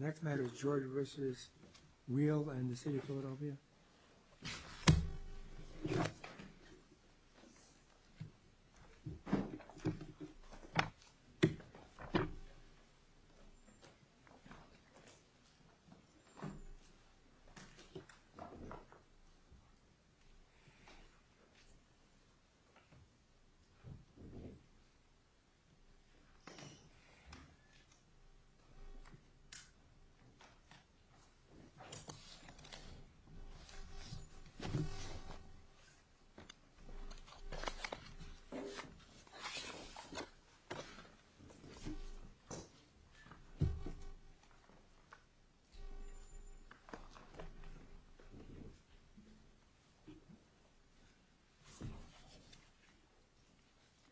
Next matter is George v. Rehiel and the City of Philadelphia.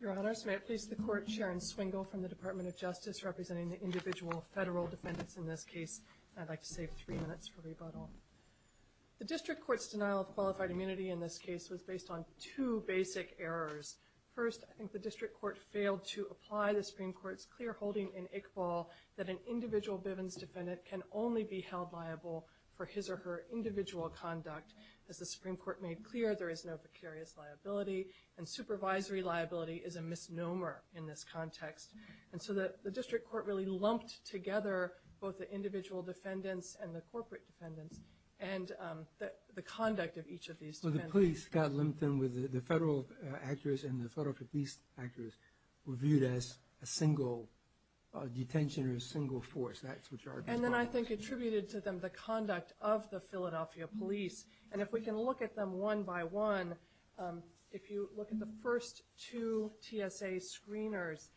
Your Honors, may it please the Court, Sharon Swingle from the Department of Justice representing the individual federal defendants in this case, and I'd like to save three minutes for rebuttal. The District Court's denial of qualified immunity in this case was based on two basic errors. First, I think the District Court failed to apply the Supreme Court's clear holding in Iqbal that an individual Bivens defendant can only be held liable for his or her individual conduct. As the Supreme Court made clear, there is no precarious liability, and supervisory liability is a misnomer in this context. And so the District Court really lumped together both the individual defendants and the corporate defendants, and the conduct of each of these defendants. So the police got limited with the federal actors and the federal police actors were viewed as a single detention or a single force, that's what you are talking about. And then I think attributed to them the conduct of the Philadelphia police, and if we can look at them one by one, if you look at the first two TSA screeners,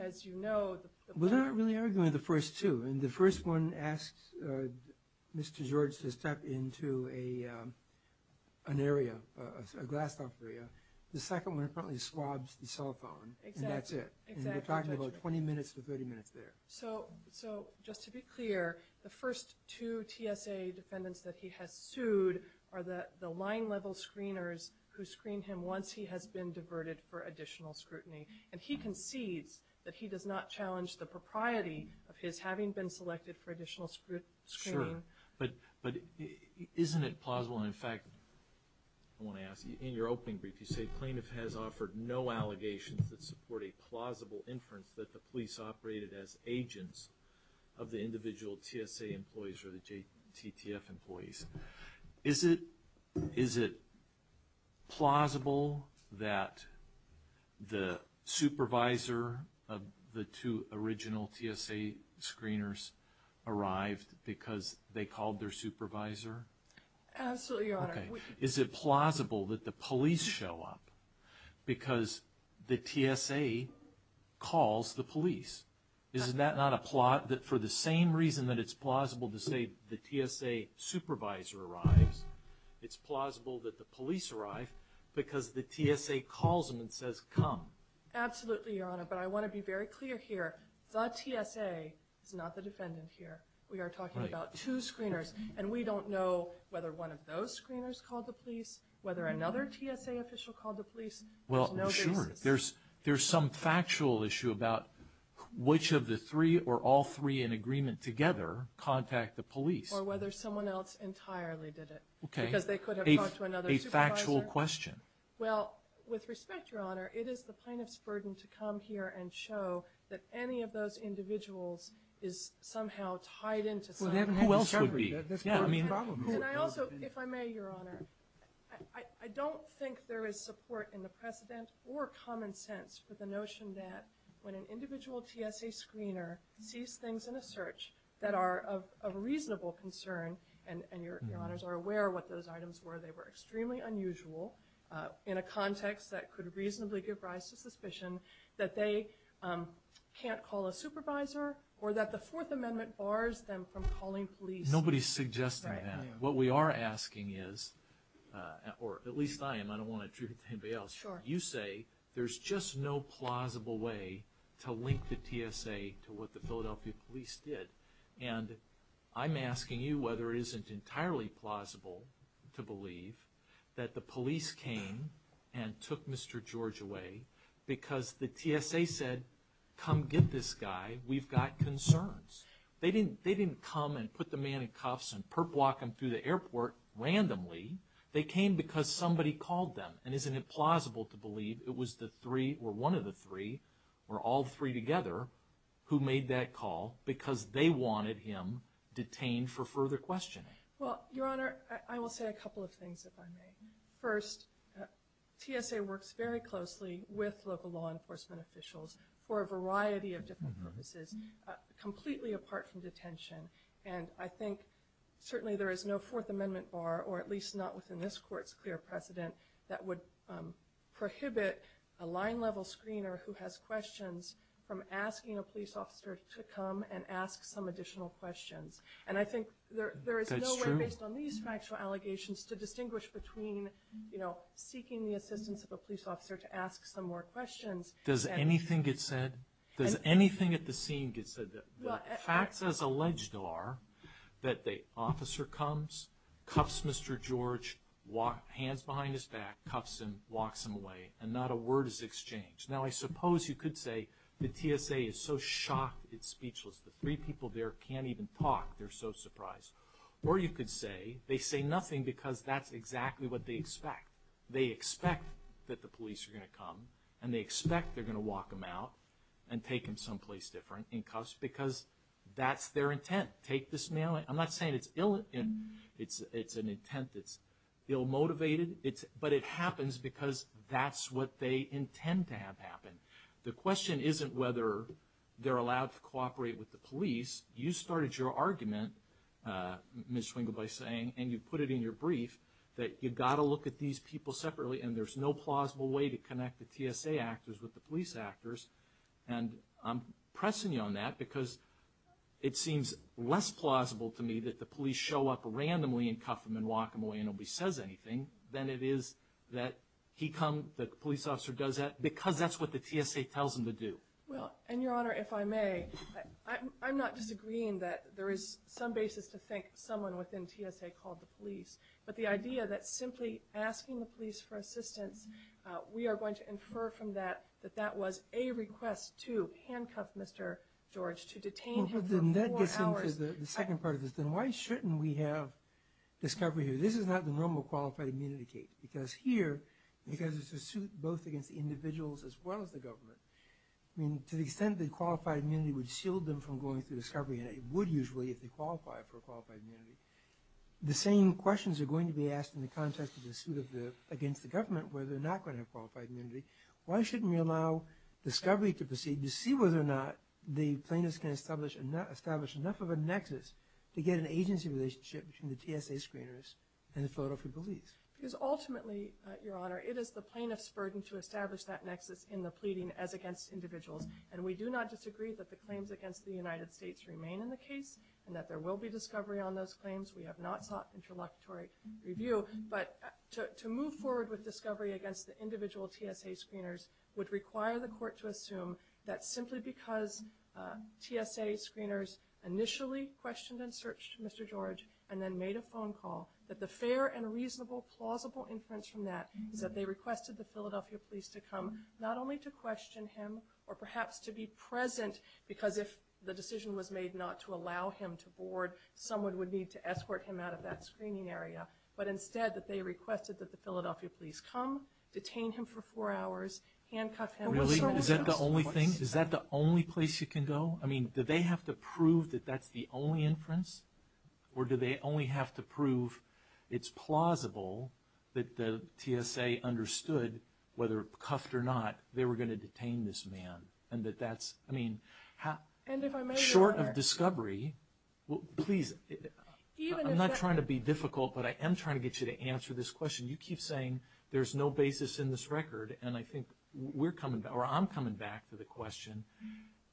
as you know... Well, they're not really arguing the first two, and the first one asks Mr. George to step into an area, a glassed off area, the second one apparently swabs the cell phone, and that's it. Exactly, exactly. And you're talking about 20 minutes to 30 minutes there. So just to be clear, the first two TSA defendants that he has sued are the line level screeners who screen him once he has been diverted for additional scrutiny. And he concedes that he does not challenge the propriety of his having been selected for additional screening. Sure. But isn't it plausible, and in fact, I want to ask, in your opening brief you say plaintiff has offered no allegations that support a plausible inference that the police operated as agents of the individual TSA employees or the TTF employees. Is it plausible that the supervisor of the two original TSA screeners arrived because Absolutely, Your Honor. Is it plausible that the police show up because the TSA calls the police? Isn't that not a plot that for the same reason that it's plausible to say the TSA supervisor arrives, it's plausible that the police arrive because the TSA calls them and says come. Absolutely, Your Honor, but I want to be very clear here. The TSA is not the defendant here. We are talking about two screeners, and we don't know whether one of those screeners called the police, whether another TSA official called the police. Well, sure. There's some factual issue about which of the three or all three in agreement together contact the police. Or whether someone else entirely did it because they could have talked to another supervisor. A factual question. Well, with respect, Your Honor, it is the plaintiff's burden to come here and show that any of those individuals is somehow tied into some... Who else would be? That's part of the problem. And I also, if I may, Your Honor, I don't think there is support in the precedent or common sense for the notion that when an individual TSA screener sees things in a search that are of reasonable concern, and Your Honors are aware of what those items were, they were can't call a supervisor, or that the Fourth Amendment bars them from calling police. Nobody's suggesting that. Right. I am. What we are asking is, or at least I am, I don't want to trigger anybody else, you say there's just no plausible way to link the TSA to what the Philadelphia police did. And I'm asking you whether it isn't entirely plausible to believe that the police came and took Mr. George away because the TSA said, come get this guy, we've got concerns. They didn't come and put the man in cuffs and perp walk him through the airport randomly. They came because somebody called them. And isn't it plausible to believe it was the three, or one of the three, or all three together, who made that call because they wanted him detained for further questioning? Well, Your Honor, I will say a couple of things, if I may. First, TSA works very closely with local law enforcement officials for a variety of different purposes, completely apart from detention. And I think, certainly, there is no Fourth Amendment bar, or at least not within this court's clear precedent, that would prohibit a line-level screener who has questions from asking a police officer to come and ask some additional questions. And I think there is no way, based on these factual allegations, to distinguish between seeking the assistance of a police officer to ask some more questions. Does anything get said? Does anything at the scene get said that the facts as alleged are that the officer comes, cuffs Mr. George, hands behind his back, cuffs him, walks him away, and not a word is exchanged? Now I suppose you could say the TSA is so shocked it's speechless, the three people there can't even talk, they're so surprised. Or you could say, they say nothing because that's exactly what they expect. They expect that the police are going to come, and they expect they're going to walk him out and take him someplace different, in cuffs, because that's their intent. Take this mail, I'm not saying it's ill, it's an intent that's ill-motivated, but it happens because that's what they intend to have happen. The question isn't whether they're allowed to cooperate with the police, you started your argument, Ms. Swingle, by saying, and you put it in your brief, that you've got to look at these people separately and there's no plausible way to connect the TSA actors with the police actors, and I'm pressing you on that because it seems less plausible to me that the police show up randomly and cuff them and walk them away and nobody says anything than it is that he comes, the police officer does that, because that's what the TSA tells him to do. Well, and Your Honor, if I may, I'm not disagreeing that there is some basis to think someone within TSA called the police, but the idea that simply asking the police for assistance, we are going to infer from that that that was a request to handcuff Mr. George, to detain him for four hours. Well, but then that gets into the second part of this, then why shouldn't we have discovery here? This is not the normal qualified immunity case, because here, because it's a suit both against the individuals as well as the government, I mean, to the extent that qualified immunity would shield them from going through discovery, and it would usually if they qualify for qualified immunity, the same questions are going to be asked in the context of the suit against the government where they're not going to have qualified immunity, why shouldn't we allow discovery to proceed to see whether or not the plaintiffs can establish enough of a nexus to get an agency relationship between the TSA screeners and the Philadelphia police? Because ultimately, Your Honor, it is the plaintiff's burden to establish that nexus in the pleading as against individuals, and we do not disagree that the claims against the United States remain in the case, and that there will be discovery on those claims, we have not sought interlocutory review, but to move forward with discovery against the individual TSA screeners would require the court to assume that simply because TSA screeners initially questioned and searched Mr. George, and then made a phone call, that the fair and reasonable, plausible inference from that is that they requested the Philadelphia police to come, not only to question him, or perhaps to be present, because if the decision was made not to allow him to board, someone would need to escort him out of that screening area, but instead that they requested that the Philadelphia police come, detain him for four hours, handcuff him. Really? Is that the only thing? Is that the only place you can go? I mean, do they have to prove that that's the only inference, or do they only have to prove that it's plausible that the TSA understood, whether cuffed or not, they were going to detain this man, and that that's, I mean, short of discovery, please, I'm not trying to be difficult, but I am trying to get you to answer this question. You keep saying there's no basis in this record, and I think we're coming back, or I'm coming back to the question,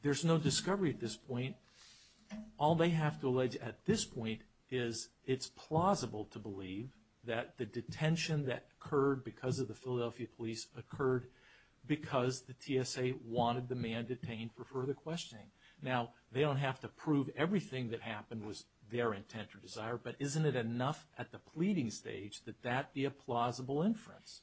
there's no discovery at this point. All they have to allege at this point is it's plausible to believe that the detention that occurred because of the Philadelphia police occurred because the TSA wanted the man detained for further questioning. Now, they don't have to prove everything that happened was their intent or desire, but isn't it enough at the pleading stage that that be a plausible inference?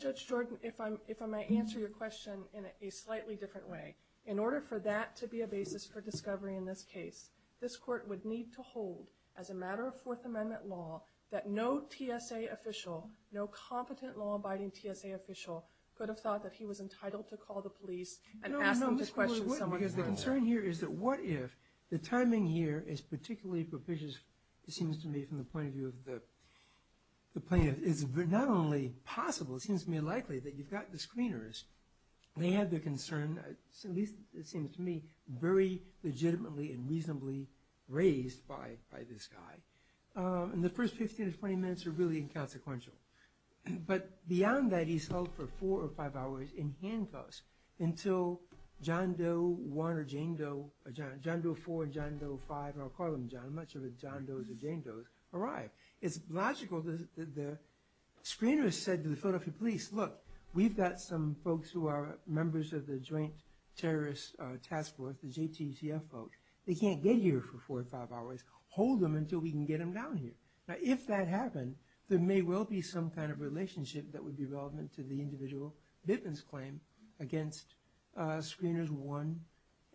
Judge Jordan, if I may answer your question in a slightly different way. In order for that to be a basis for discovery in this case, this court would need to hold, as a matter of Fourth Amendment law, that no TSA official, no competent law-abiding TSA official, could have thought that he was entitled to call the police and ask them to question someone who was there. No, no, because the concern here is that what if the timing here is particularly propitious, it seems to me from the point of view of the plaintiff, it's not only possible, it seems to me likely that you've got the screeners, they have their concern, at least it seems to me, very legitimately and reasonably raised by this guy, and the first 15 to 20 minutes are really inconsequential. But beyond that, he's held for four or five hours in handcuffs until John Doe 1 or Jane Doe, John Doe 4 and John Doe 5, or I'll call them John, I'm not sure if it's John Doe's or Jane Doe's, arrive. It's logical that the screeners said to the Philadelphia police, look, we've got some folks who are members of the Joint Terrorist Task Force, the JTCF folks, they can't get here for four or five hours, hold them until we can get them down here. Now, if that happened, there may well be some kind of relationship that would be relevant to the individual bitman's claim against screeners 1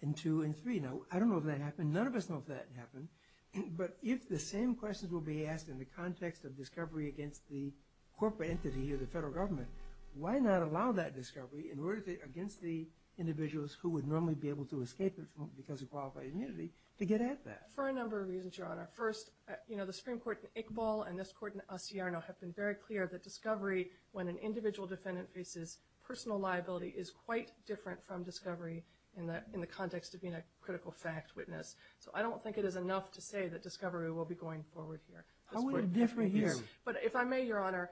and 2 and 3. Now, I don't know if that happened, none of us know if that happened, but if the same questions will be asked in the context of discovery against the corporate entity of the federal government, why not allow that discovery against the individuals who would normally be able to escape it because of qualified immunity to get at that? For a number of reasons, Your Honor. First, the Supreme Court in Iqbal and this court in Asiarno have been very clear that discovery when an individual defendant faces personal liability is quite different from discovery in the context of being a critical fact witness, so I don't think it is enough to say that discovery will be going forward here. How would it differ here? But if I may, Your Honor,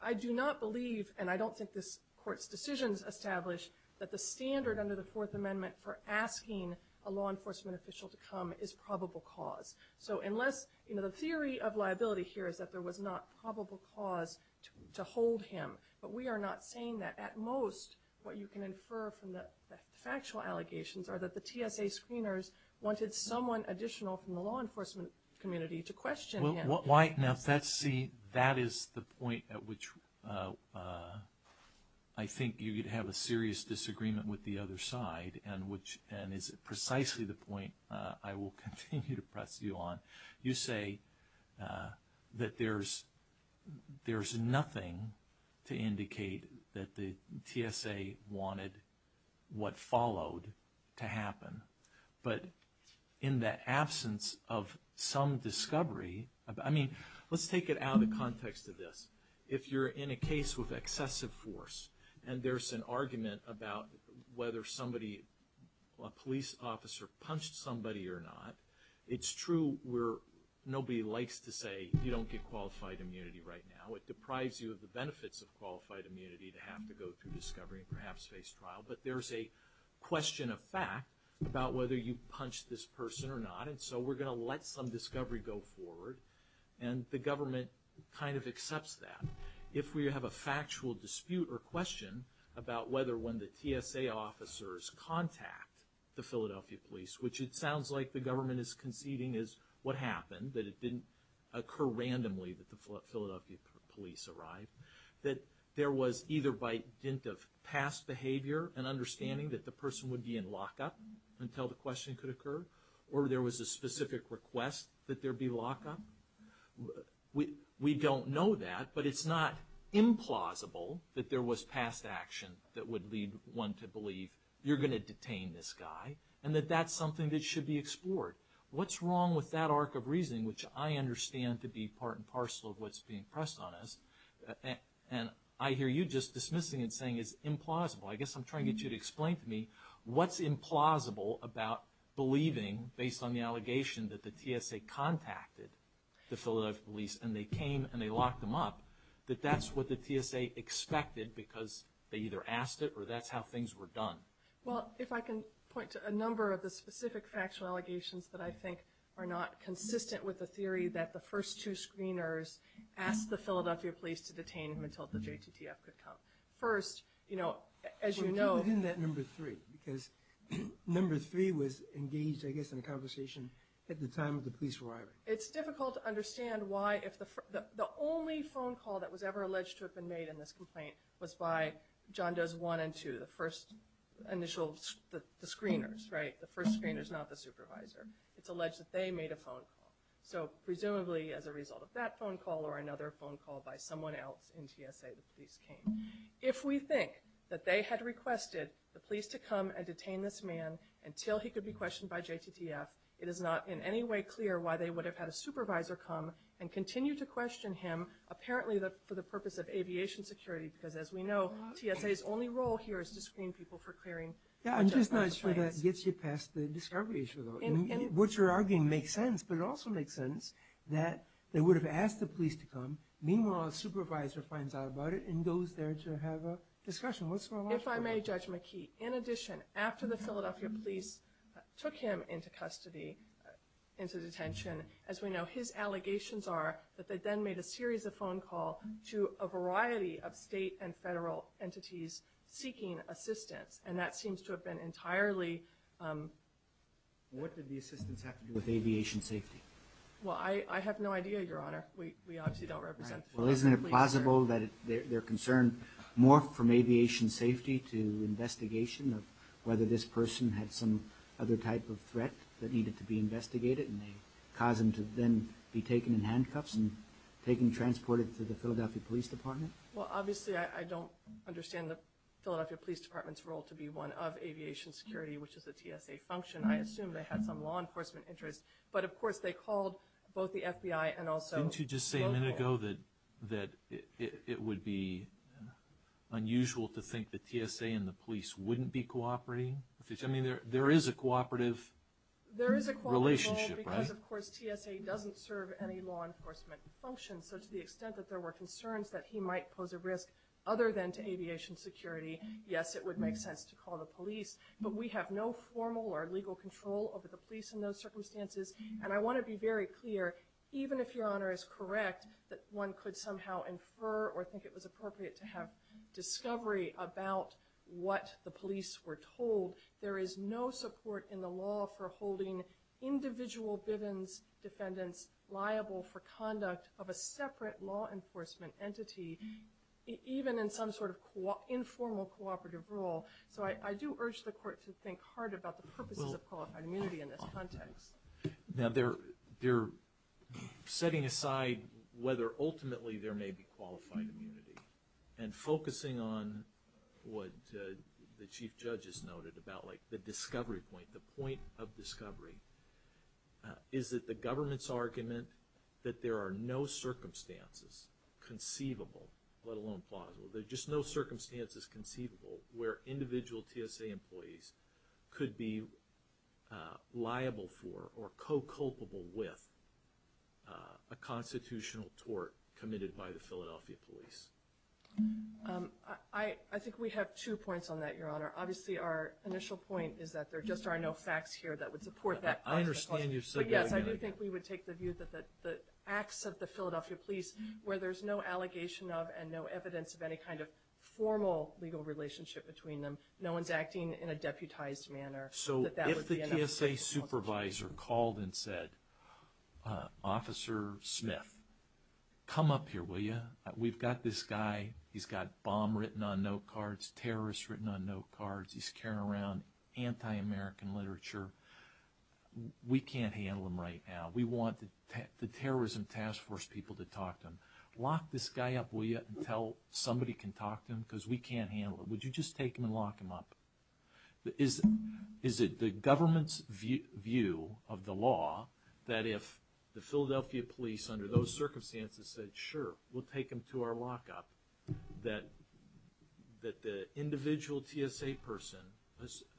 I do not believe and I don't think this court's decisions establish that the standard under the Fourth Amendment for asking a law enforcement official to come is probable cause. So unless, you know, the theory of liability here is that there was not probable cause to hold him, but we are not saying that. At most, what you can infer from the factual allegations are that the TSA screeners wanted someone additional from the law enforcement community to question him. Well, why, now that's, see, that is the point at which I think you could have a serious disagreement with the other side and which, and is precisely the point I will continue to press you on. You say that there's nothing to indicate that the TSA wanted what followed to happen, but in the absence of some discovery, I mean, let's take it out of the context of this. If you're in a case with excessive force and there's an argument about whether somebody, a police officer punched somebody or not, it's true where nobody likes to say you don't get qualified immunity right now. It deprives you of the benefits of qualified immunity to have to go through discovery and perhaps face trial. But there's a question of fact about whether you punched this person or not, and so we're going to let some discovery go forward, and the government kind of accepts that. If we have a factual dispute or question about whether when the TSA officers contact the Philadelphia police, which it sounds like the government is conceding is what happened, that it didn't occur randomly that the Philadelphia police arrived, that there was either by dint of past behavior and understanding that the person would be in lockup until the question could occur, or there was a specific request that there be lockup, we don't know that, but it's not implausible that there was past action that would lead one to believe you're going to detain this guy, and that that's something that should be explored. What's wrong with that arc of reasoning, which I understand to be part and parcel of what's being pressed on us, and I hear you just dismissing it saying it's implausible. I guess I'm trying to get you to explain to me what's implausible about believing, based on the allegation that the TSA contacted the Philadelphia police and they came and they found him, that that's what the TSA expected because they either asked it or that's how things were done. Well, if I can point to a number of the specific factual allegations that I think are not consistent with the theory that the first two screeners asked the Philadelphia police to detain him until the JTTF could come. First, as you know... Well, get within that number three, because number three was engaged, I guess, in a conversation at the time of the police arrival. It's difficult to understand why, if the only phone call that was ever alleged to have been made in this complaint was by John Does 1 and 2, the first initial, the screeners, right? The first screeners, not the supervisor. It's alleged that they made a phone call. So presumably, as a result of that phone call or another phone call by someone else in TSA, the police came. If we think that they had requested the police to come and detain this man until he could be questioned by JTTF, it is not in any way clear why they would have had a supervisor come and continue to question him, apparently for the purpose of aviation security, because as we know, TSA's only role here is to screen people for clearing... Yeah, I'm just not sure that gets you past the discovery issue, though. What you're arguing makes sense, but it also makes sense that they would have asked the police to come. Meanwhile, a supervisor finds out about it and goes there to have a discussion. What's the logic of that? If I may, Judge McKee, in addition, after the Philadelphia police took him into custody, into detention, as we know, his allegations are that they then made a series of phone calls to a variety of state and federal entities seeking assistance, and that seems to have been entirely... What did the assistance have to do with aviation safety? Well, I have no idea, Your Honor. We obviously don't represent the police here. Do you know that they're concerned more from aviation safety to investigation of whether this person had some other type of threat that needed to be investigated, and they caused him to then be taken in handcuffs and taken and transported to the Philadelphia Police Department? Well, obviously, I don't understand the Philadelphia Police Department's role to be one of aviation security, which is a TSA function. I assume they had some law enforcement interest, but of course, they called both the FBI and also... Didn't you just say a minute ago that it would be unusual to think that TSA and the police wouldn't be cooperating? There is a cooperative relationship, right? There is a cooperative role because, of course, TSA doesn't serve any law enforcement function, so to the extent that there were concerns that he might pose a risk other than to aviation security, yes, it would make sense to call the police, but we have no formal or legal control over the police in those circumstances, and I want to be very clear. Even if Your Honor is correct that one could somehow infer or think it was appropriate to have discovery about what the police were told, there is no support in the law for holding individual Bivens defendants liable for conduct of a separate law enforcement entity, even in some sort of informal cooperative role, so I do urge the court to think hard about the purposes of qualified immunity in this context. Now, they're setting aside whether ultimately there may be qualified immunity and focusing on what the Chief Judge has noted about the discovery point, the point of discovery, is that the government's argument that there are no circumstances conceivable, let alone plausible, there are just no circumstances conceivable where individual TSA employees could be liable for or co-culpable with a constitutional tort committed by the Philadelphia Police. I think we have two points on that, Your Honor. Obviously, our initial point is that there just are no facts here that would support that. I understand you're saying that again. But yes, I do think we would take the view that the acts of the Philadelphia Police, where there's no allegation of and no evidence of any kind of formal legal relationship between them, no one's acting in a deputized manner, that that would be enough. So if the TSA supervisor called and said, Officer Smith, come up here, will you? We've got this guy, he's got bomb written on note cards, terrorists written on note cards, he's carrying around anti-American literature. We can't handle him right now. We want the Terrorism Task Force people to talk to him. Lock this guy up, will you, until somebody can talk to him, because we can't handle him. Would you just take him and lock him up? Is it the government's view of the law that if the Philadelphia Police under those circumstances said sure, we'll take him to our lockup, that the individual TSA person,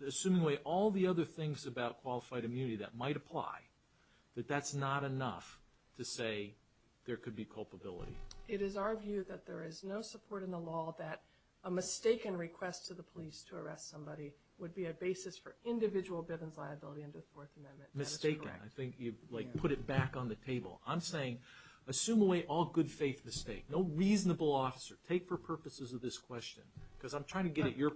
assuming all the other things about qualified immunity that might apply, that that's not enough to say there could be culpability? It is our view that there is no support in the law that a mistaken request to the police to arrest somebody would be a basis for individual Bivens liability under the Fourth Amendment. Mistaken, I think you've put it back on the table. I'm saying assume away all good faith mistake, no reasonable officer, take for purposes of this question, because I'm trying to get at your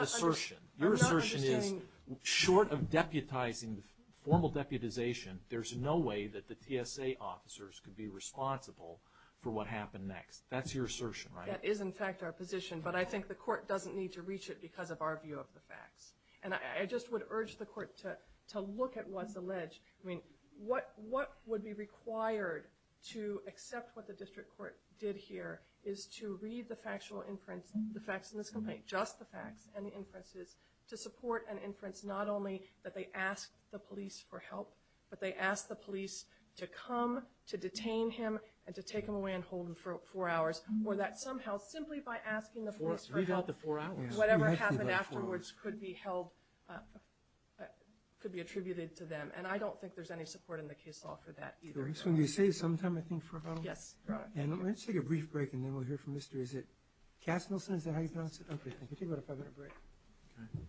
assertion. Your assertion is short of deputizing, formal deputization, there's no way that the TSA officers could be responsible for what happened next. That's your assertion, right? That is, in fact, our position, but I think the court doesn't need to reach it because of our view of the facts. And I just would urge the court to look at what's alleged. What would be required to accept what the district court did here is to read the factual inference, the facts in this complaint, just the facts and the inferences, to support an But they ask the police to come to detain him and to take him away and hold him for four hours, or that somehow, simply by asking the police for help, whatever happened afterwards could be held, could be attributed to them. And I don't think there's any support in the case law for that either. Can we save some time, I think, for about a moment? Yes. Let's take a brief break and then we'll hear from Mr. Is it Castnelson? Is that how you pronounce it? Okay, thank you. Take about a five minute break. Okay.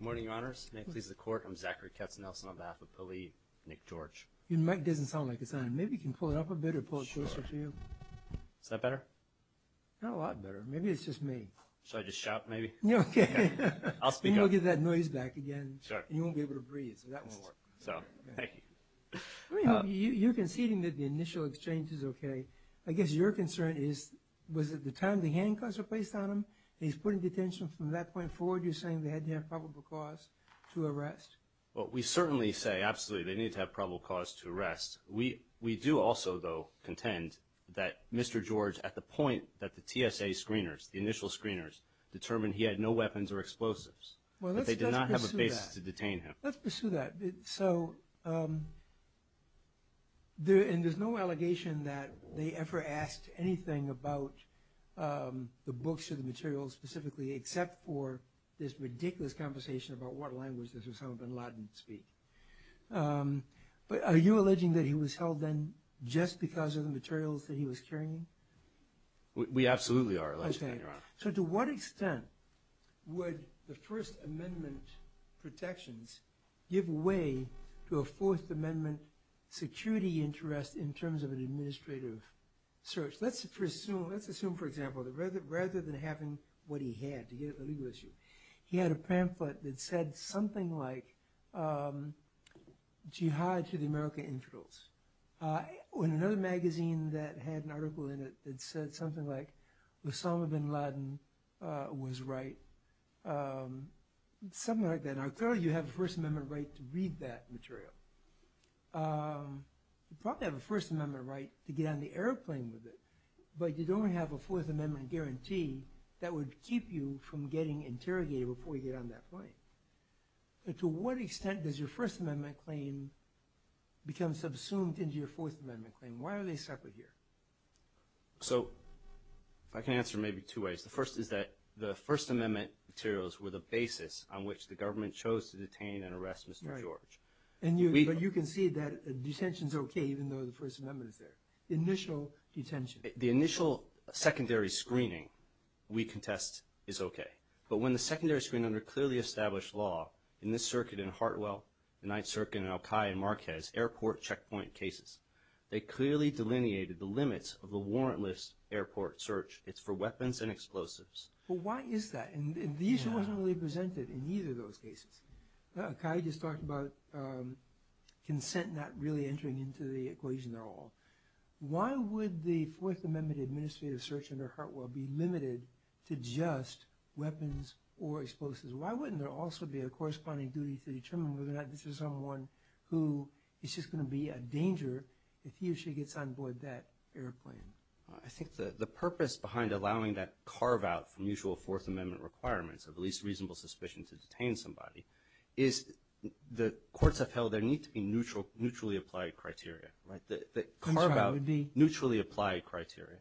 Good morning, your honors, may it please the court, I'm Zachary Castnelson on behalf of the elite, Nick George. Your mic doesn't sound like it's on. Maybe you can pull it up a bit or pull it closer to you. Sure. Is that better? Not a lot better. Maybe it's just me. Should I just shout, maybe? Yeah, okay. I'll speak up. Then you'll get that noise back again. Sure. And you won't be able to breathe, so that won't work. So, thank you. You're conceding that the initial exchange is okay. I guess your concern is, was it the time the handcuffs were placed on him and he's put in detention from that point forward, you're saying they had to have probable cause to arrest? Well, we certainly say, absolutely, they need to have probable cause to arrest. We do also, though, contend that Mr. George, at the point that the TSA screeners, the initial screeners, determined he had no weapons or explosives, that they did not have a basis to detain him. Well, let's pursue that. So, and there's no allegation that they ever asked anything about the books or the materials specifically except for this ridiculous conversation about what language this was, how bin Laden would speak. But are you alleging that he was held then just because of the materials that he was carrying? We absolutely are. I understand, Your Honor. So, to what extent would the First Amendment protections give way to a Fourth Amendment security interest in terms of an administrative search? Let's assume, for example, that rather than having what he had, to get at the legal issue, he had a pamphlet that said something like, Jihad to the American Integrals, or in another magazine that had an article in it that said something like, Osama bin Laden was right, something like that. Now, clearly, you have a First Amendment right to read that material. You probably have a First Amendment right to get on the airplane with it, but you don't have a Fourth Amendment guarantee that would keep you from getting interrogated before you get on that plane. To what extent does your First Amendment claim become subsumed into your Fourth Amendment claim? Why are they separate here? So, I can answer maybe two ways. The first is that the First Amendment materials were the basis on which the government chose to detain and arrest Mr. George. But you can see that detention's okay, even though the First Amendment is there. Initial detention. The initial secondary screening, we contest, is okay. But when the secondary screening under clearly established law, in this circuit and Hartwell, the Ninth Circuit, and Al-Qaeda and Marquez, airport checkpoint cases, they clearly delineated the limits of the warrantless airport search. It's for weapons and explosives. But why is that? And the issue wasn't really presented in either of those cases. Al-Qaeda just talked about consent not really entering into the equation at all. Why would the Fourth Amendment administrative search under Hartwell be limited to just weapons or explosives? Why wouldn't there also be a corresponding duty to determine whether or not this is someone who is just going to be a danger if he or she gets on board that airplane? I think the purpose behind allowing that carve out from usual Fourth Amendment requirements of the least reasonable suspicion to detain somebody, is the courts have held there need to be neutrally applied criteria, that carve out neutrally applied criteria,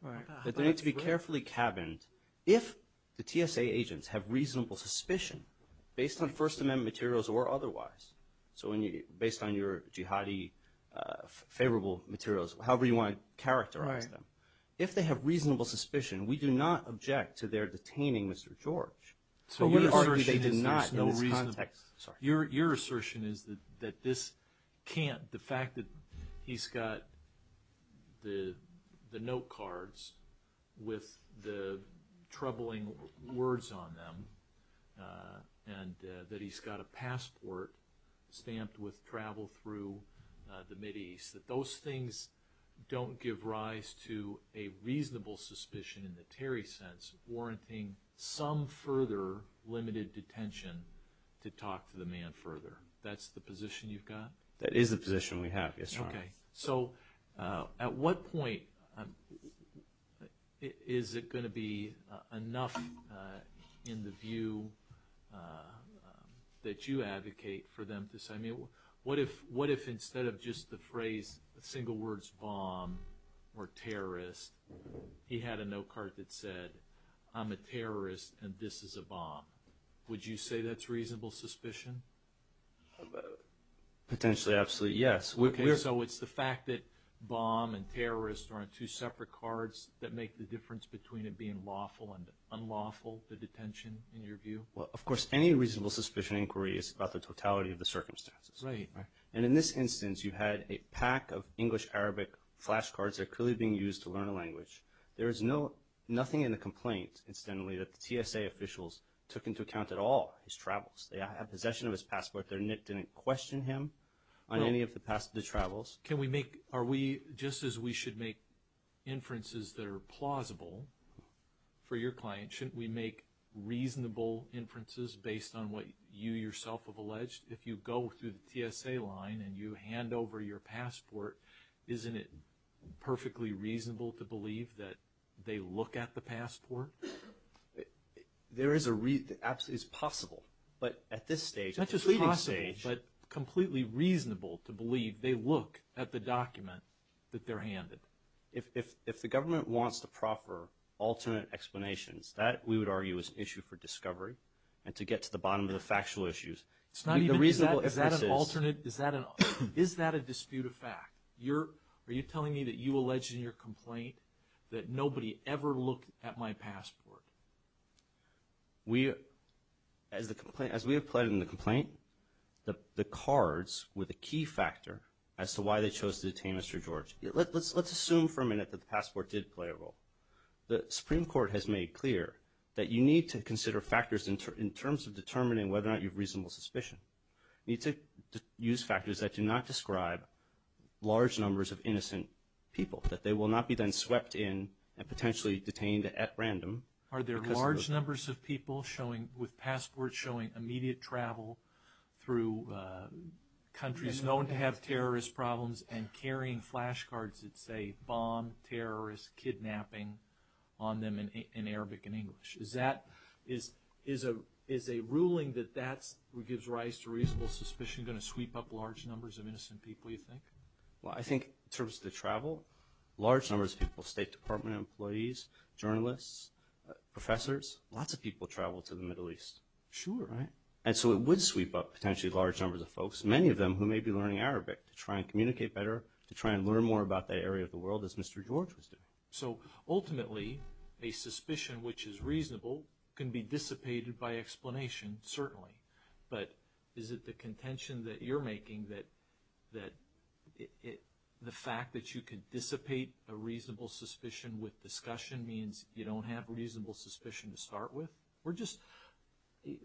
that they need to be carefully cabined. If the TSA agents have reasonable suspicion, based on First Amendment materials or otherwise, so based on your jihadi favorable materials, however you want to characterize them, if they have reasonable suspicion, we do not object to their detaining Mr. George. But we argue they did not in this context. Your assertion is that this can't, the fact that he's got the note cards with the troubling words on them, and that he's got a passport stamped with travel through the Mideast, that those things don't give rise to a reasonable suspicion in the Terry sense, warranting some further limited detention to talk to the man further. That's the position you've got? That is the position we have, yes, Your Honor. So at what point is it going to be enough in the view that you advocate for them to phrase a single word, bomb, or terrorist, he had a note card that said, I'm a terrorist and this is a bomb. Would you say that's reasonable suspicion? Potentially, absolutely, yes. So it's the fact that bomb and terrorist are on two separate cards that make the difference between it being lawful and unlawful, the detention, in your view? Of course, any reasonable suspicion inquiry is about the totality of the circumstances. And in this instance, you had a pack of English-Arabic flashcards that are clearly being used to learn a language. There is nothing in the complaint, incidentally, that the TSA officials took into account at all, his travels. They have possession of his passport, their nick didn't question him on any of the travels. Can we make, are we, just as we should make inferences that are plausible for your client, shouldn't we make reasonable inferences based on what you yourself have alleged? If you go through the TSA line and you hand over your passport, isn't it perfectly reasonable to believe that they look at the passport? There is a reason, absolutely, it's possible. But at this stage, it's possible, but completely reasonable to believe they look at the document that they're handed. If the government wants to proffer alternate explanations, that, we would argue, is an issue for discovery and to get to the bottom of the factual issues. It's not even, is that an alternate, is that a dispute of fact? You're, are you telling me that you allege in your complaint that nobody ever looked at my passport? We, as the complaint, as we have plotted in the complaint, the cards were the key factor as to why they chose to detain Mr. George. Let's assume for a minute that the passport did play a role. The Supreme Court has made clear that you need to consider factors in terms of determining whether or not you have reasonable suspicion. You need to use factors that do not describe large numbers of innocent people, that they will not be then swept in and potentially detained at random. Are there large numbers of people showing, with passports showing, immediate travel through countries known to have terrorist problems and carrying flashcards that say bomb, terrorist, kidnapping on them in Arabic and English? Is that, is a ruling that that gives rise to reasonable suspicion going to sweep up large numbers of innocent people, you think? Well, I think in terms of the travel, large numbers of people, State Department employees, journalists, professors, lots of people travel to the Middle East. Sure. Right? And so it would sweep up potentially large numbers of folks, many of them who may be learning Arabic, to try and communicate better, to try and learn more about that area of the world as Mr. George was doing. So ultimately, a suspicion which is reasonable can be dissipated by explanation, certainly. But is it the contention that you're making that the fact that you can dissipate a reasonable suspicion with discussion means you don't have reasonable suspicion to start with? We're just,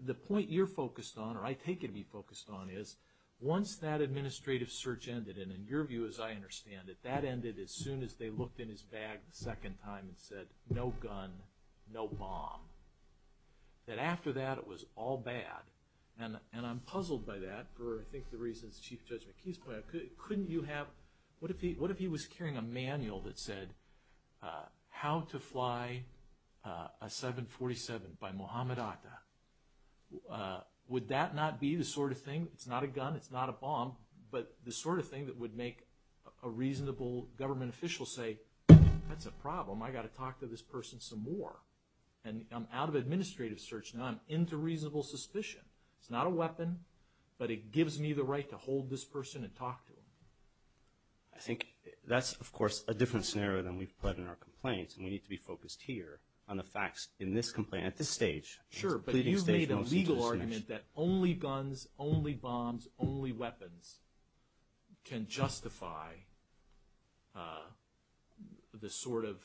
the point you're focused on, or I take it you're focused on, is once that administrative search ended, and in your view as I understand it, that ended as soon as they looked in his bag the second time and said, no gun, no bomb. That after that, it was all bad. And I'm puzzled by that, for I think the reasons Chief Judge McKee's point, couldn't you have, what if he was carrying a manual that said, how to fly a 747 by Mohammed Atta? Would that not be the sort of thing, it's not a gun, it's not a bomb, but the sort of thing that would make a reasonable government official say, that's a problem, I've got to talk to this person some more. And I'm out of administrative search now, I'm into reasonable suspicion. It's not a weapon, but it gives me the right to hold this person and talk to him. I think that's of course a different scenario than we've put in our complaints, and we need to be focused here on the facts in this complaint, at this stage. Sure, but you've made a legal argument that only guns, only bombs, only weapons can justify the sort of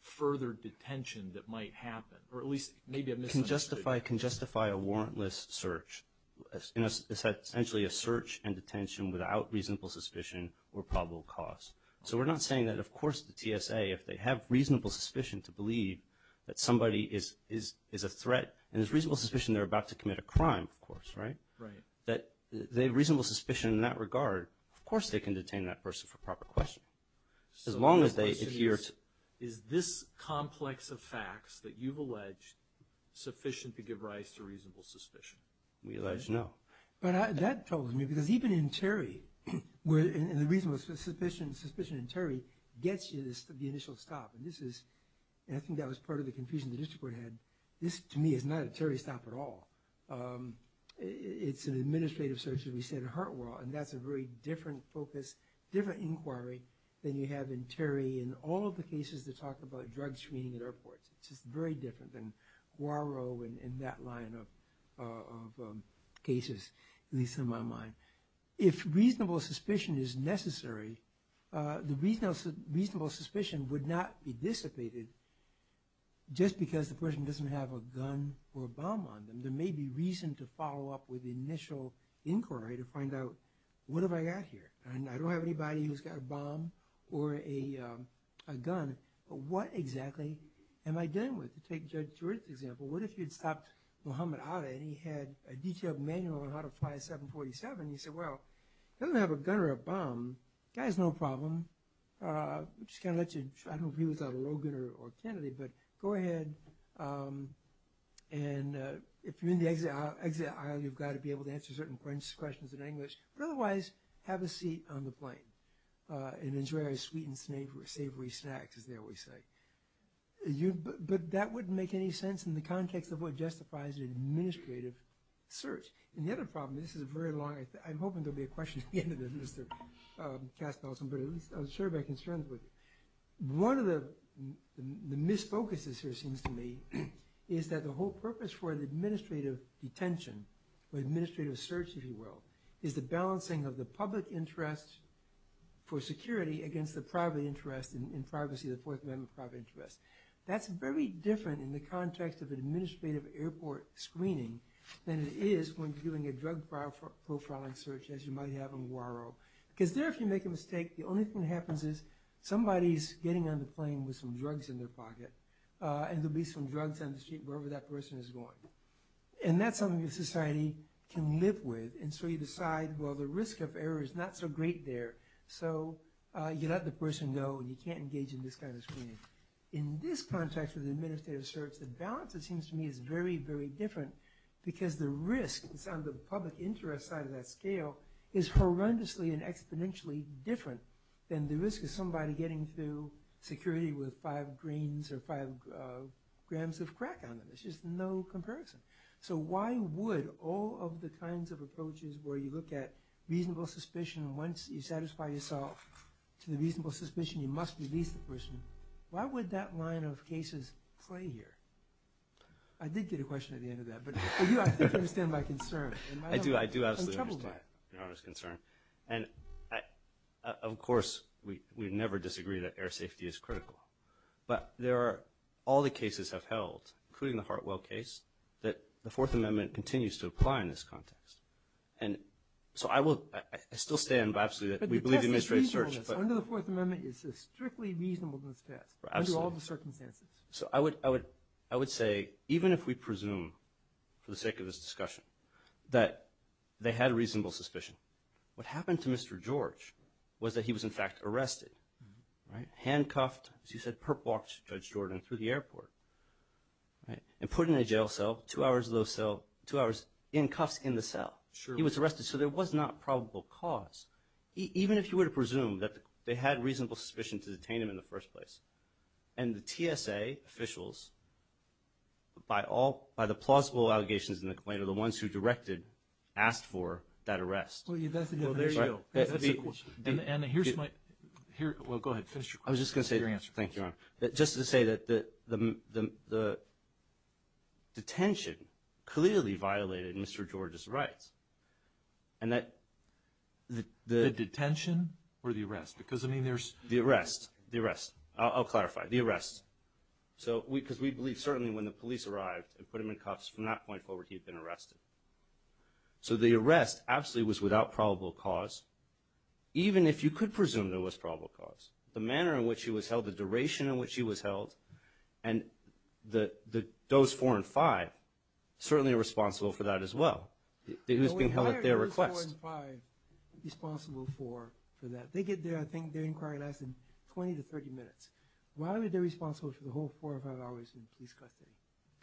further detention that might happen, or at least, maybe I've misunderstood. Can justify a warrantless search, essentially a search and detention without reasonable suspicion or probable cause. So we're not saying that of course the TSA, if they have reasonable suspicion to believe that somebody is a threat, and there's reasonable suspicion they're about to commit a crime, of course, right? Right. That they have reasonable suspicion in that regard, of course they can detain that person for proper questioning. So the question is, is this complex of facts that you've alleged sufficient to give rise to reasonable suspicion? We allege no. But that troubles me, because even in Terry, where the reasonable suspicion in Terry gets you the initial stop, and I think that was part of the confusion the district court had, this to me is not a Terry stop at all. It's an administrative search, as we said, at Hartwell, and that's a very different focus, different inquiry than you have in Terry in all of the cases that talk about drug screening at airports. It's just very different than Guaro and that line of cases, at least in my mind. If reasonable suspicion is necessary, the reasonable suspicion would not be dissipated just because the person doesn't have a gun or a bomb on them. There may be reason to follow up with initial inquiry to find out, what have I got here? And I don't have anybody who's got a bomb or a gun, but what exactly am I dealing with? Take Judge George's example. What if you'd stopped Mohammed Ada, and he had a detailed manual on how to fly a 747? You say, well, he doesn't have a gun or a bomb. That is no problem. I'm just going to let you, I don't know if he was a Logan or Kennedy, but go ahead, and if you're in the exit aisle, you've got to be able to answer certain questions in English, but otherwise, have a seat on the plane, and enjoy a sweet and savory snack, as they always say. But that wouldn't make any sense in the context of what justifies an administrative search. And the other problem, this is a very long, I'm hoping there'll be a question at the end of this, Mr. Kaspelson, but at least I'll share my concerns with you. One of the misfocuses here, it seems to me, is that the whole purpose for the administrative detention, or administrative search, if you will, is the balancing of the public interest for security against the private interest in privacy, the Fourth Amendment private interest. That's very different in the context of administrative airport screening than it is when doing a drug profiling search, as you might have in Guaro. Because there, if you make a mistake, the only thing that happens is somebody's getting on the plane with some drugs in their pocket, and there'll be some drugs on the street wherever that person is going. And that's something a society can live with, and so you decide, well, the risk of error is not so great there. So you let the person go, and you can't engage in this kind of screening. In this context of the administrative search, the balance, it seems to me, is very, very different, because the risk, it's on the public interest side of that scale, is horrendously and exponentially different than the risk of somebody getting through security with five grains or five grams of crack on them. There's just no comparison. So why would all of the kinds of approaches where you look at reasonable suspicion, and once you satisfy yourself to the reasonable suspicion, you must release the person, why would that line of cases play here? I did get a question at the end of that, but I think you understand my concern. I do, I do absolutely understand Your Honor's concern. And of course, we never disagree that air safety is critical. But there are, all the cases have held, including the Hartwell case, that the Fourth Amendment continues to apply in this context. And so I will, I still stand by absolutely that we believe in administrative search. But the test that's reasonable under the Fourth Amendment is strictly reasonable in this test, under all the circumstances. So I would say, even if we presume, for the sake of this discussion, that they had reasonable suspicion, what happened to Mr. George was that he was in fact arrested, right? You said perp walked Judge Jordan through the airport, right? And put in a jail cell, two hours in cuffs in the cell. He was arrested, so there was not probable cause. Even if you were to presume that they had reasonable suspicion to detain him in the first place, and the TSA officials, by the plausible allegations in the claim, are the ones who directed, asked for, that arrest. Well, that's a good question. Well, there you go. That's a good question. And here's my, well, go ahead, finish your question. I was just going to say, thank you, Your Honor, that just to say that the detention clearly violated Mr. George's rights, and that the... The detention or the arrest? Because, I mean, there's... The arrest. The arrest. I'll clarify. The arrest. So, because we believe certainly when the police arrived and put him in cuffs, from that point forward, he had been arrested. So the arrest absolutely was without probable cause. Even if you could presume there was probable cause, the manner in which he was held, the duration in which he was held, and the Doze 4 and 5 certainly are responsible for that as well. He was being held at their request. Why are the Doze 4 and 5 responsible for that? They get there, I think, they inquire less than 20 to 30 minutes. Why are they responsible for the whole four or five hours in police custody?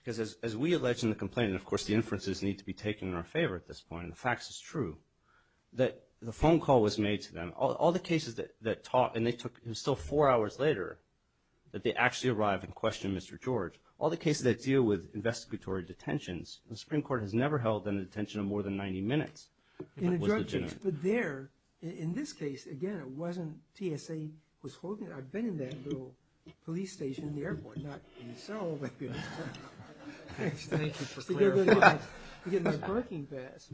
Because as we allege in the complaint, and of course the inferences need to be taken in our favor at this point, and the facts is true, that the phone call was made to them. All the cases that talk... And they took... It was still four hours later that they actually arrived and questioned Mr. George. All the cases that deal with investigatory detentions, the Supreme Court has never held them in detention of more than 90 minutes. In a drug case. It was legitimate. But there, in this case, again, it wasn't TSA was holding... I've been in that little police station in the airport. Not in Seoul, but... Thank you for clarifying. In the parking pass.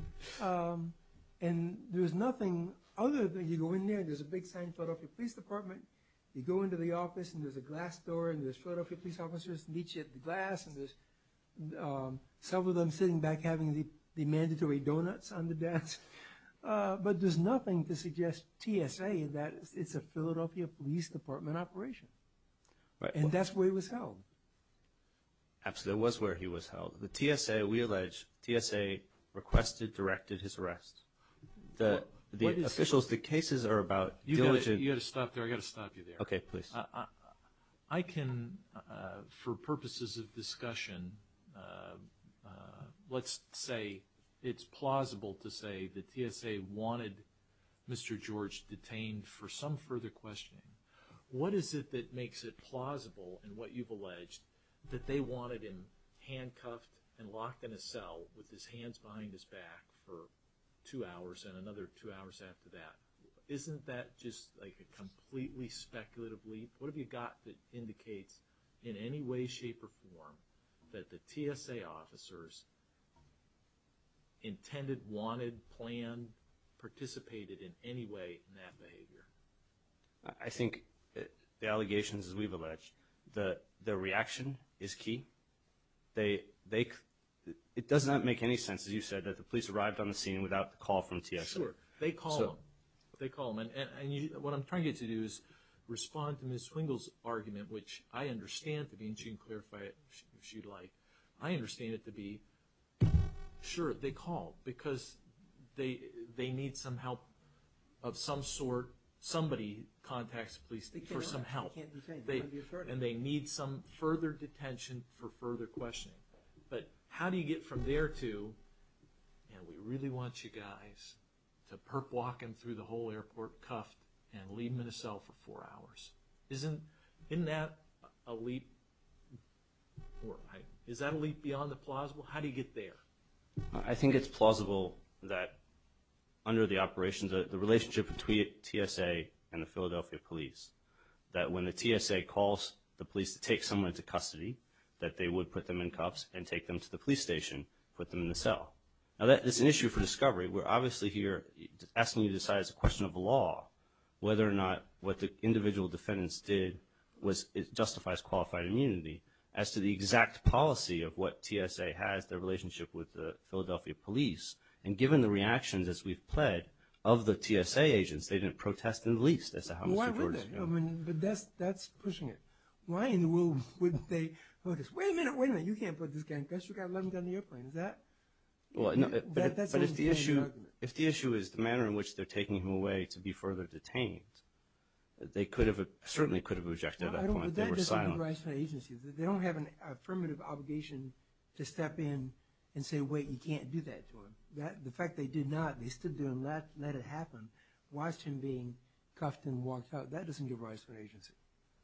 And there was nothing other than you go in there, there's a big sign, Philadelphia Police Department. You go into the office and there's a glass door and there's Philadelphia police officers and each hit the glass and there's several of them sitting back having the mandatory donuts on the desk. But there's nothing to suggest TSA that it's a Philadelphia Police Department operation. And that's where he was held. Absolutely, it was where he was held. The TSA, we allege, TSA requested, directed his arrest. The officials, the cases are about diligent... You've got to stop there. I've got to stop you there. Okay, please. I can, for purposes of discussion, let's say it's plausible to say that TSA wanted Mr. George detained for some further questioning. What is it that makes it plausible in what you've alleged that they wanted him handcuffed and locked in a cell with his hands behind his back for two hours and another two hours after that? Isn't that just like a completely speculative leap? What have you got that indicates in any way, shape, or form that the TSA officers intended, wanted, planned, participated in any way in that behavior? I think the allegations, as we've alleged, the reaction is key. They... It does not make any sense, as you said, that the police arrived on the scene without the call from TSA. Sure. They call them. They call them. And what I'm trying to get you to do is respond to Ms. Swingle's argument, which I understand to be, and she can clarify it if she'd like. I understand it to be, sure, they call because they need some help of some sort. Somebody contacts the police for some help. And they need some further detention for further questioning. But how do you get from there to, and we really want you guys to perp walk him through the whole airport cuffed and leave him in a cell for four hours. Isn't that a leap? Is that a leap beyond the plausible? How do you get there? I think it's plausible that under the operations, the relationship between TSA and the Philadelphia police, that when the TSA calls the police to take someone into custody, that they would put them in cuffs and take them to the police station, put them in the cell. Now, that is an issue for discovery. We're obviously here asking you to decide, it's a question of law, whether or not what the individual defendants did justifies qualified immunity, as to the exact policy of what TSA has, their relationship with the Philadelphia police. And given the reactions, as we've pled, of the TSA agents, they didn't protest in the least, as to how Mr. George is doing. But that's pushing it. Why in the world wouldn't they, wait a minute, wait a minute, you can't put this guy in cuffs, you've got to let him get on the airplane, is that? But if the issue is the manner in which they're taking him away to be further detained, they could have, certainly could have objected at that point. They were silent. But that doesn't give rise to an agency. They don't have an affirmative obligation to step in and say, wait, you can't do that to him. The fact they did not, they stood there and let it happen, watched him being cuffed and walked out, that doesn't give rise to an agency.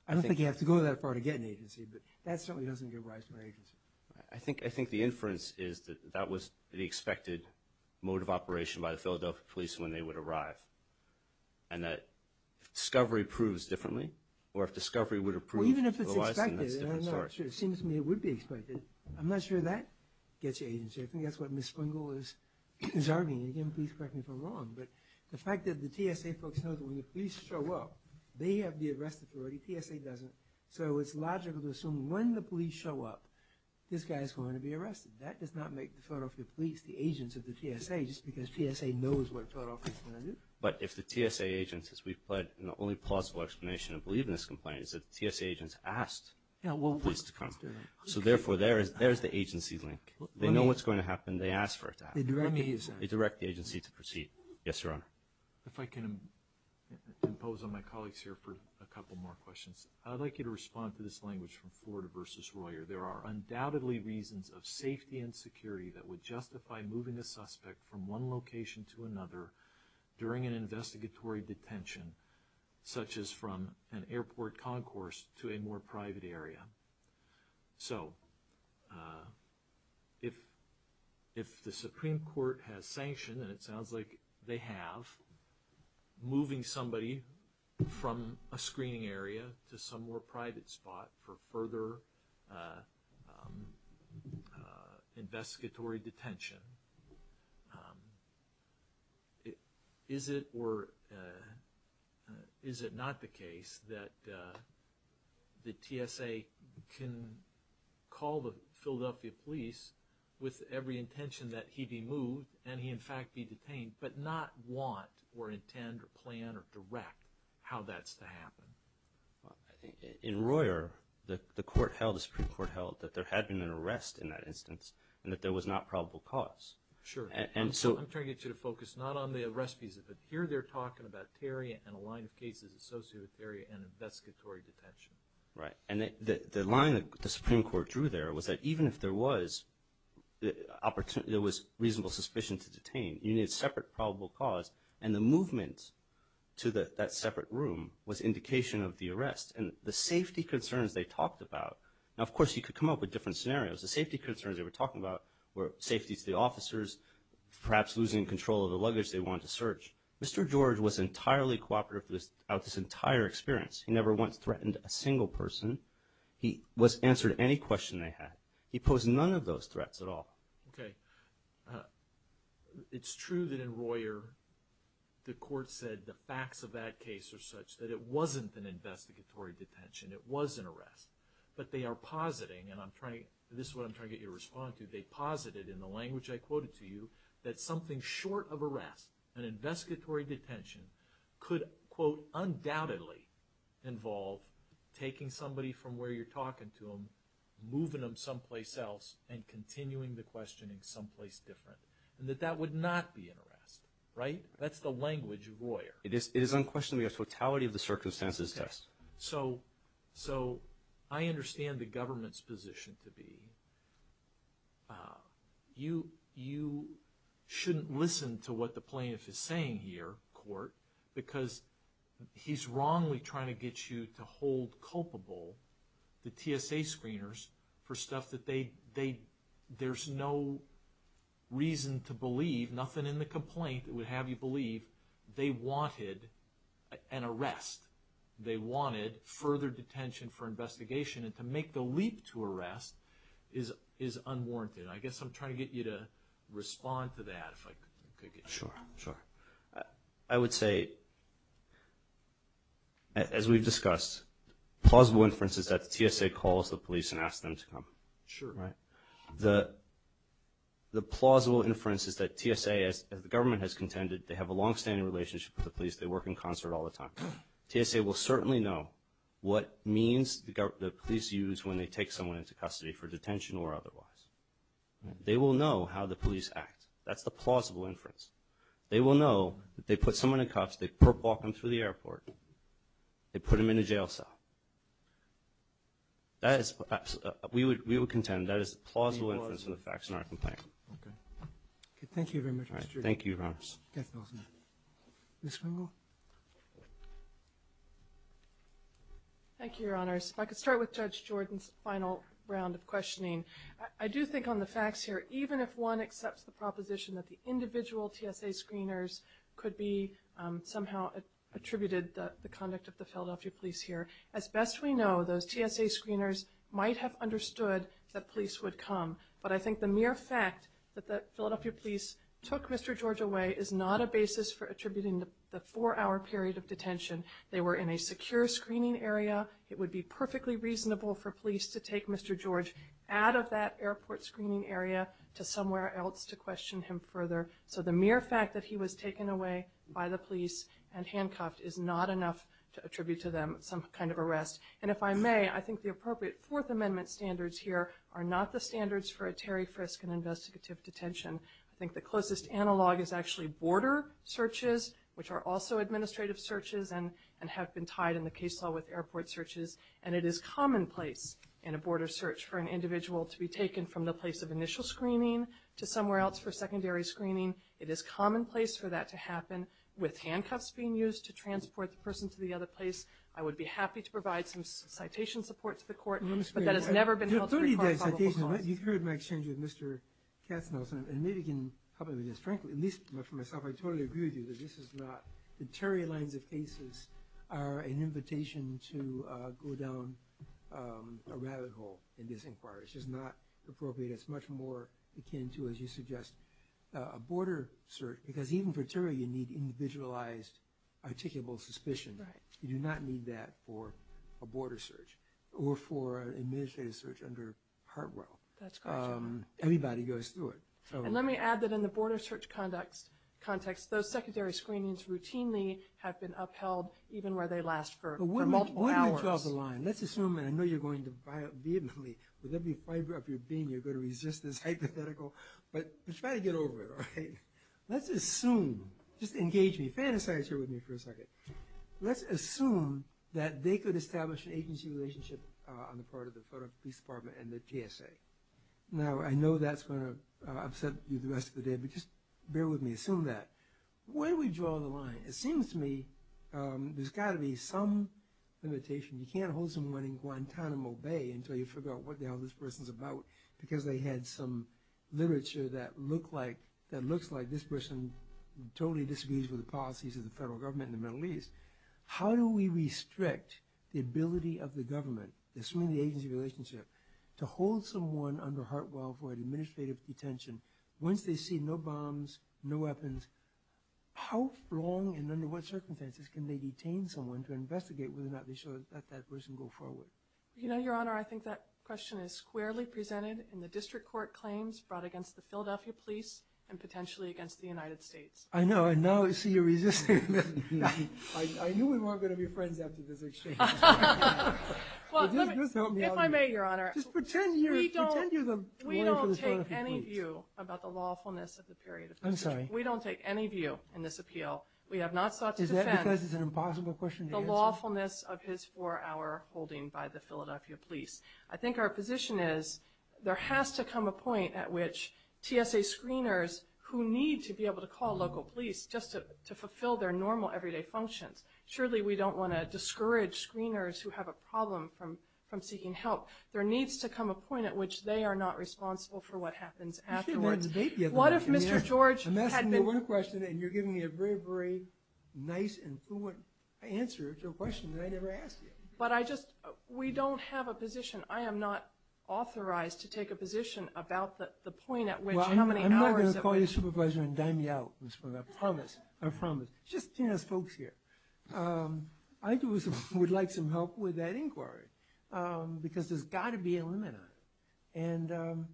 I don't think you have to go that far to get an agency, but that certainly doesn't give rise to an agency. I think the inference is that that was the expected mode of operation by the Philadelphia police when they would arrive. And that if discovery proves differently, or if discovery would have proved otherwise, then that's a different story. Well, even if it's expected, I'm not sure. It seems to me it would be expected. I'm not sure that gets you agency. I think that's what Ms. Springle is arguing. Again, please correct me if I'm wrong. But the fact that the TSA folks know that when the police show up, they have the arrest authority, TSA doesn't, so it's logical to assume when the police show up, this guy is going to be arrested. That does not make the Philadelphia police the agents of the TSA just because TSA knows what Philadelphia is going to do. But if the TSA agents, as we've put, and the only plausible explanation I believe in this complaint is that the TSA agents asked the police to come. So therefore, there is the agency link. They know what's going to happen. They ask for it to happen. They direct the agency to proceed. Yes, Your Honor. If I can impose on my colleagues here for a couple more questions. I'd like you to respond to this language from Florida versus Royer. There are undoubtedly reasons of safety and security that would justify moving a suspect from one location to another during an investigatory detention, such as from an airport concourse to a more private area. So if the Supreme Court has sanctioned, and it sounds like they have, moving somebody from a screening area to some more private spot for further investigatory detention, is it or is it not the case that the TSA can call the Philadelphia police with every intention that he be moved and he, in fact, be detained, but not want or intend or plan or direct how that's to happen? In Royer, the Supreme Court held that there had been an arrest in that instance and that there was not probable cause. Sure. I'm trying to get you to focus not on the arrestees, but here they're talking about Terria and a line of cases associated with Terria and investigatory detention. And the line that the Supreme Court drew there was that even if there was reasonable suspicion to detain, you need a separate probable cause. And the movement to that separate room was indication of the arrest. And the safety concerns they talked about, now, of course, you could come up with different scenarios. The safety concerns they were talking about were safety to the officers, perhaps losing control of the luggage they wanted to search. Mr. George was entirely cooperative throughout this entire experience. He never once threatened a single person. He answered any question they had. He posed none of those threats at all. Okay. It's true that in Royer, the court said the facts of that case are such that it wasn't an investigatory detention. It was an arrest. But they are positing, and this is what I'm trying to get you to respond to, they posited in the language I quoted to you that something short of arrest, an investigatory detention, could, quote, undoubtedly involve taking somebody from where you're talking to them, moving them someplace else, and continuing the questioning someplace different. And that that would not be an arrest. Right? That's the language of Royer. It is unquestionably a totality of the circumstances test. Yes. So I understand the government's position to be you shouldn't listen to what the plaintiff is saying here, court, because he's wrongly trying to get you to hold culpable the TSA screeners for stuff that they, there's no reason to believe, nothing in the complaint would have you believe they wanted an arrest. They wanted further detention for investigation. And to make the leap to arrest is unwarranted. I guess I'm trying to get you to respond to that, if I could get you to. Sure. Sure. I would say, as we've discussed, plausible inference is that the TSA calls the police and asks them to come. Sure. Right? The plausible inference is that TSA, as the government has contended, they have a longstanding relationship with the police. They work in concert all the time. TSA will certainly know what means the police use when they take someone into custody for They will know how the police act. That's the plausible inference. They will know that they put someone in cuffs, they walk them through the airport, they put them in a jail cell. That is, we would contend, that is the plausible inference of the facts in our complaint. Okay. Thank you very much, Judge Jordan. Thank you, Your Honors. Yes, Your Honor. Ms. Wengel? Thank you, Your Honors. If I could start with Judge Jordan's final round of questioning. I do think on the facts here, even if one accepts the proposition that the individual TSA screeners could be somehow attributed the conduct of the Philadelphia police here, as best we know, those TSA screeners might have understood that police would come. But I think the mere fact that the Philadelphia police took Mr. George away is not a basis for attributing the four-hour period of detention. They were in a secure screening area. It would be perfectly reasonable for police to take Mr. George out of that airport screening area to somewhere else to question him further. So the mere fact that he was taken away by the police and handcuffed is not enough to attribute to them some kind of arrest. And if I may, I think the appropriate Fourth Amendment standards here are not the standards for a Terry Frisk and investigative detention. I think the closest analog is actually border searches, which are also administrative searches and have been tied in the case law with airport searches. And it is commonplace in a border search for an individual to be taken from the place of initial screening to somewhere else for secondary screening. It is commonplace for that to happen with handcuffs being used to transport the person to the other place. I would be happy to provide some citation support to the court, but that has never been held to require probable cause. You've heard my exchange with Mr. Katznelson, and maybe you can help me with this. Frankly, at least for myself, I totally agree with you that this is not – the Terry lines of cases are an invitation to go down a rabbit hole in this inquiry. It's just not appropriate. It's much more akin to, as you suggest, a border search. Because even for Terry, you need individualized, articulable suspicion. You do not need that for a border search or for an administrative search under Hartwell. Everybody goes through it. And let me add that in the border search context, those secondary screenings routinely have been upheld even where they last for multiple hours. But wouldn't you draw the line? Let's assume – and I know you're going to vehemently, with every fiber of your being, you're going to resist this hypothetical. But try to get over it, all right? Let's assume – just engage me. Fantasize here with me for a second. Let's assume that they could establish an agency relationship on the part of the Federal Police Department and the GSA. Now, I know that's going to upset you the rest of the day, but just bear with me. Assume that. Why do we draw the line? It seems to me there's got to be some limitation. You can't hold someone in Guantanamo Bay until you figure out what the hell this person's about, because they had some literature that looks like this person totally disagrees with the policies of the federal government in the Middle East. How do we restrict the ability of the government, assuming the agency relationship, to hold someone under Hartwell for administrative detention once they see no bombs, no weapons? How long and under what circumstances can they detain someone to investigate whether or not they should let that person go forward? You know, Your Honor, I think that question is squarely presented in the district court claims brought against the Philadelphia police and potentially against the United States. I know. And now I see you're resisting. I knew we weren't going to be friends after this exchange. Just help me out here. If I may, Your Honor. Just pretend you're the lawyer for the Philadelphia police. We don't take any view about the lawfulness of the period. I'm sorry. We don't take any view in this appeal. We have not sought to defend the lawfulness of his four-hour holding by the Philadelphia police. I think our position is there has to come a point at which TSA screeners who need to be able to call local police just to fulfill their normal everyday functions. Surely we don't want to discourage screeners who have a problem from seeking help. There needs to come a point at which they are not responsible for what happens afterwards. You should have been in the debate the other night. I'm asking you one question and you're giving me a very, very nice and fluent answer to a question that I never asked you. But I just, we don't have a position. I am not authorized to take a position about the point at which how many hours it would take. Well, I'm not going to call your supervisor and dime you out. I promise. I promise. Just TSA folks here. I would like some help with that inquiry. Because there's got to be a limit on it. And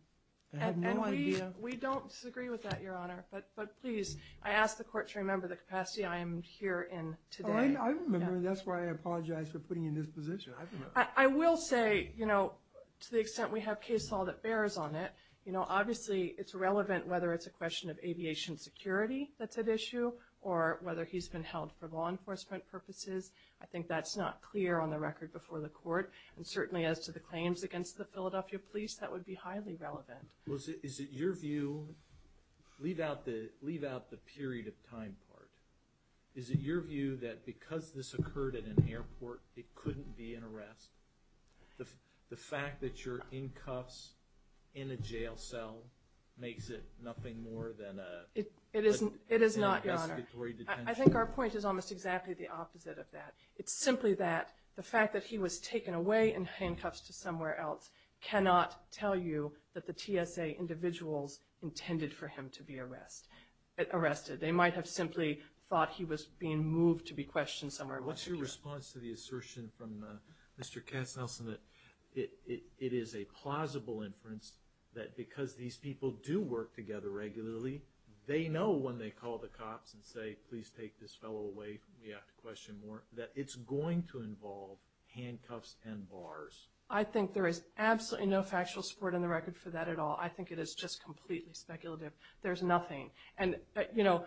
I have no idea. We don't disagree with that, Your Honor. But please, I ask the court to remember the capacity I am here in today. I remember. That's why I apologize for putting you in this position. I will say, you know, to the extent we have case law that bears on it, you know, obviously it's relevant whether it's a question of aviation security that's at issue or whether he's been held for law enforcement purposes. I think that's not clear on the record before the court. And certainly as to the claims against the Philadelphia police, that would be highly relevant. Well, is it your view, leave out the period of time part, is it your view that because this occurred at an airport, it couldn't be an arrest? The fact that you're in cuffs in a jail cell makes it nothing more than an investigatory detention? It is not, Your Honor. I think our point is almost exactly the opposite of that. It's simply that the fact that he was taken away in handcuffs to somewhere else cannot tell you that the TSA individuals intended for him to be arrested. They might have simply thought he was being moved to be questioned somewhere else. What's your response to the assertion from Mr. Katzenhausen that it is a plausible inference that because these people do work together regularly, they know when they call the cops and say, please take this fellow away, we have to question more, that it's going to involve handcuffs and bars? I think there is absolutely no factual support in the record for that at all. I think it is just completely speculative. There's nothing. And, you know,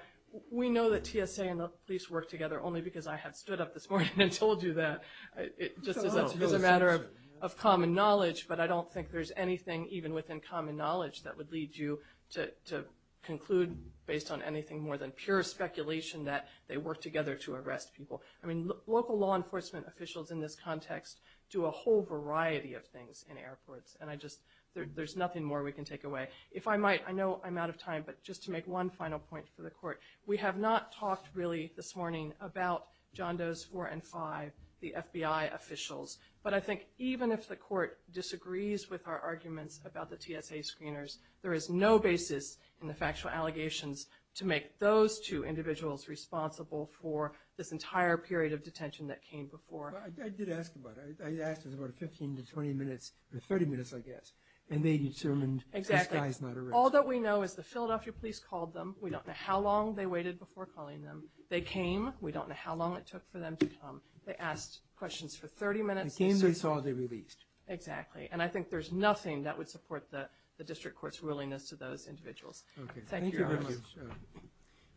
we know that TSA and the police work together only because I have stood up this morning and told you that. It just is a matter of common knowledge, but I don't think there's anything even within common knowledge that would lead you to conclude based on anything more than pure speculation that they work together to arrest people. I mean, local law enforcement officials in this context do a whole variety of things in airports, and I just, there's nothing more we can take away. If I might, I know I'm out of time, but just to make one final point for the court, we have not talked really this morning about John Doe's 4 and 5, the FBI officials, but I think even if the court disagrees with our arguments about the TSA screeners, there is no basis in the factual allegations to make those two individuals responsible for this entire period of detention that came before. I did ask about it. I asked for about 15 to 20 minutes, or 30 minutes, I guess, and they determined this guy is not arrestable. Exactly. All that we know is the Philadelphia police called them. We don't know how long they waited before calling them. We don't know how long it took for them to come. They asked questions for 30 minutes. The game they saw, they released. Exactly. And I think there's nothing that would support the district court's willingness to those individuals. Okay. Thank you. Thank you very much.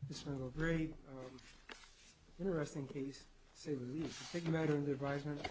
This has been a great, interesting case to say the least. Thank you, Madam, for the advisement.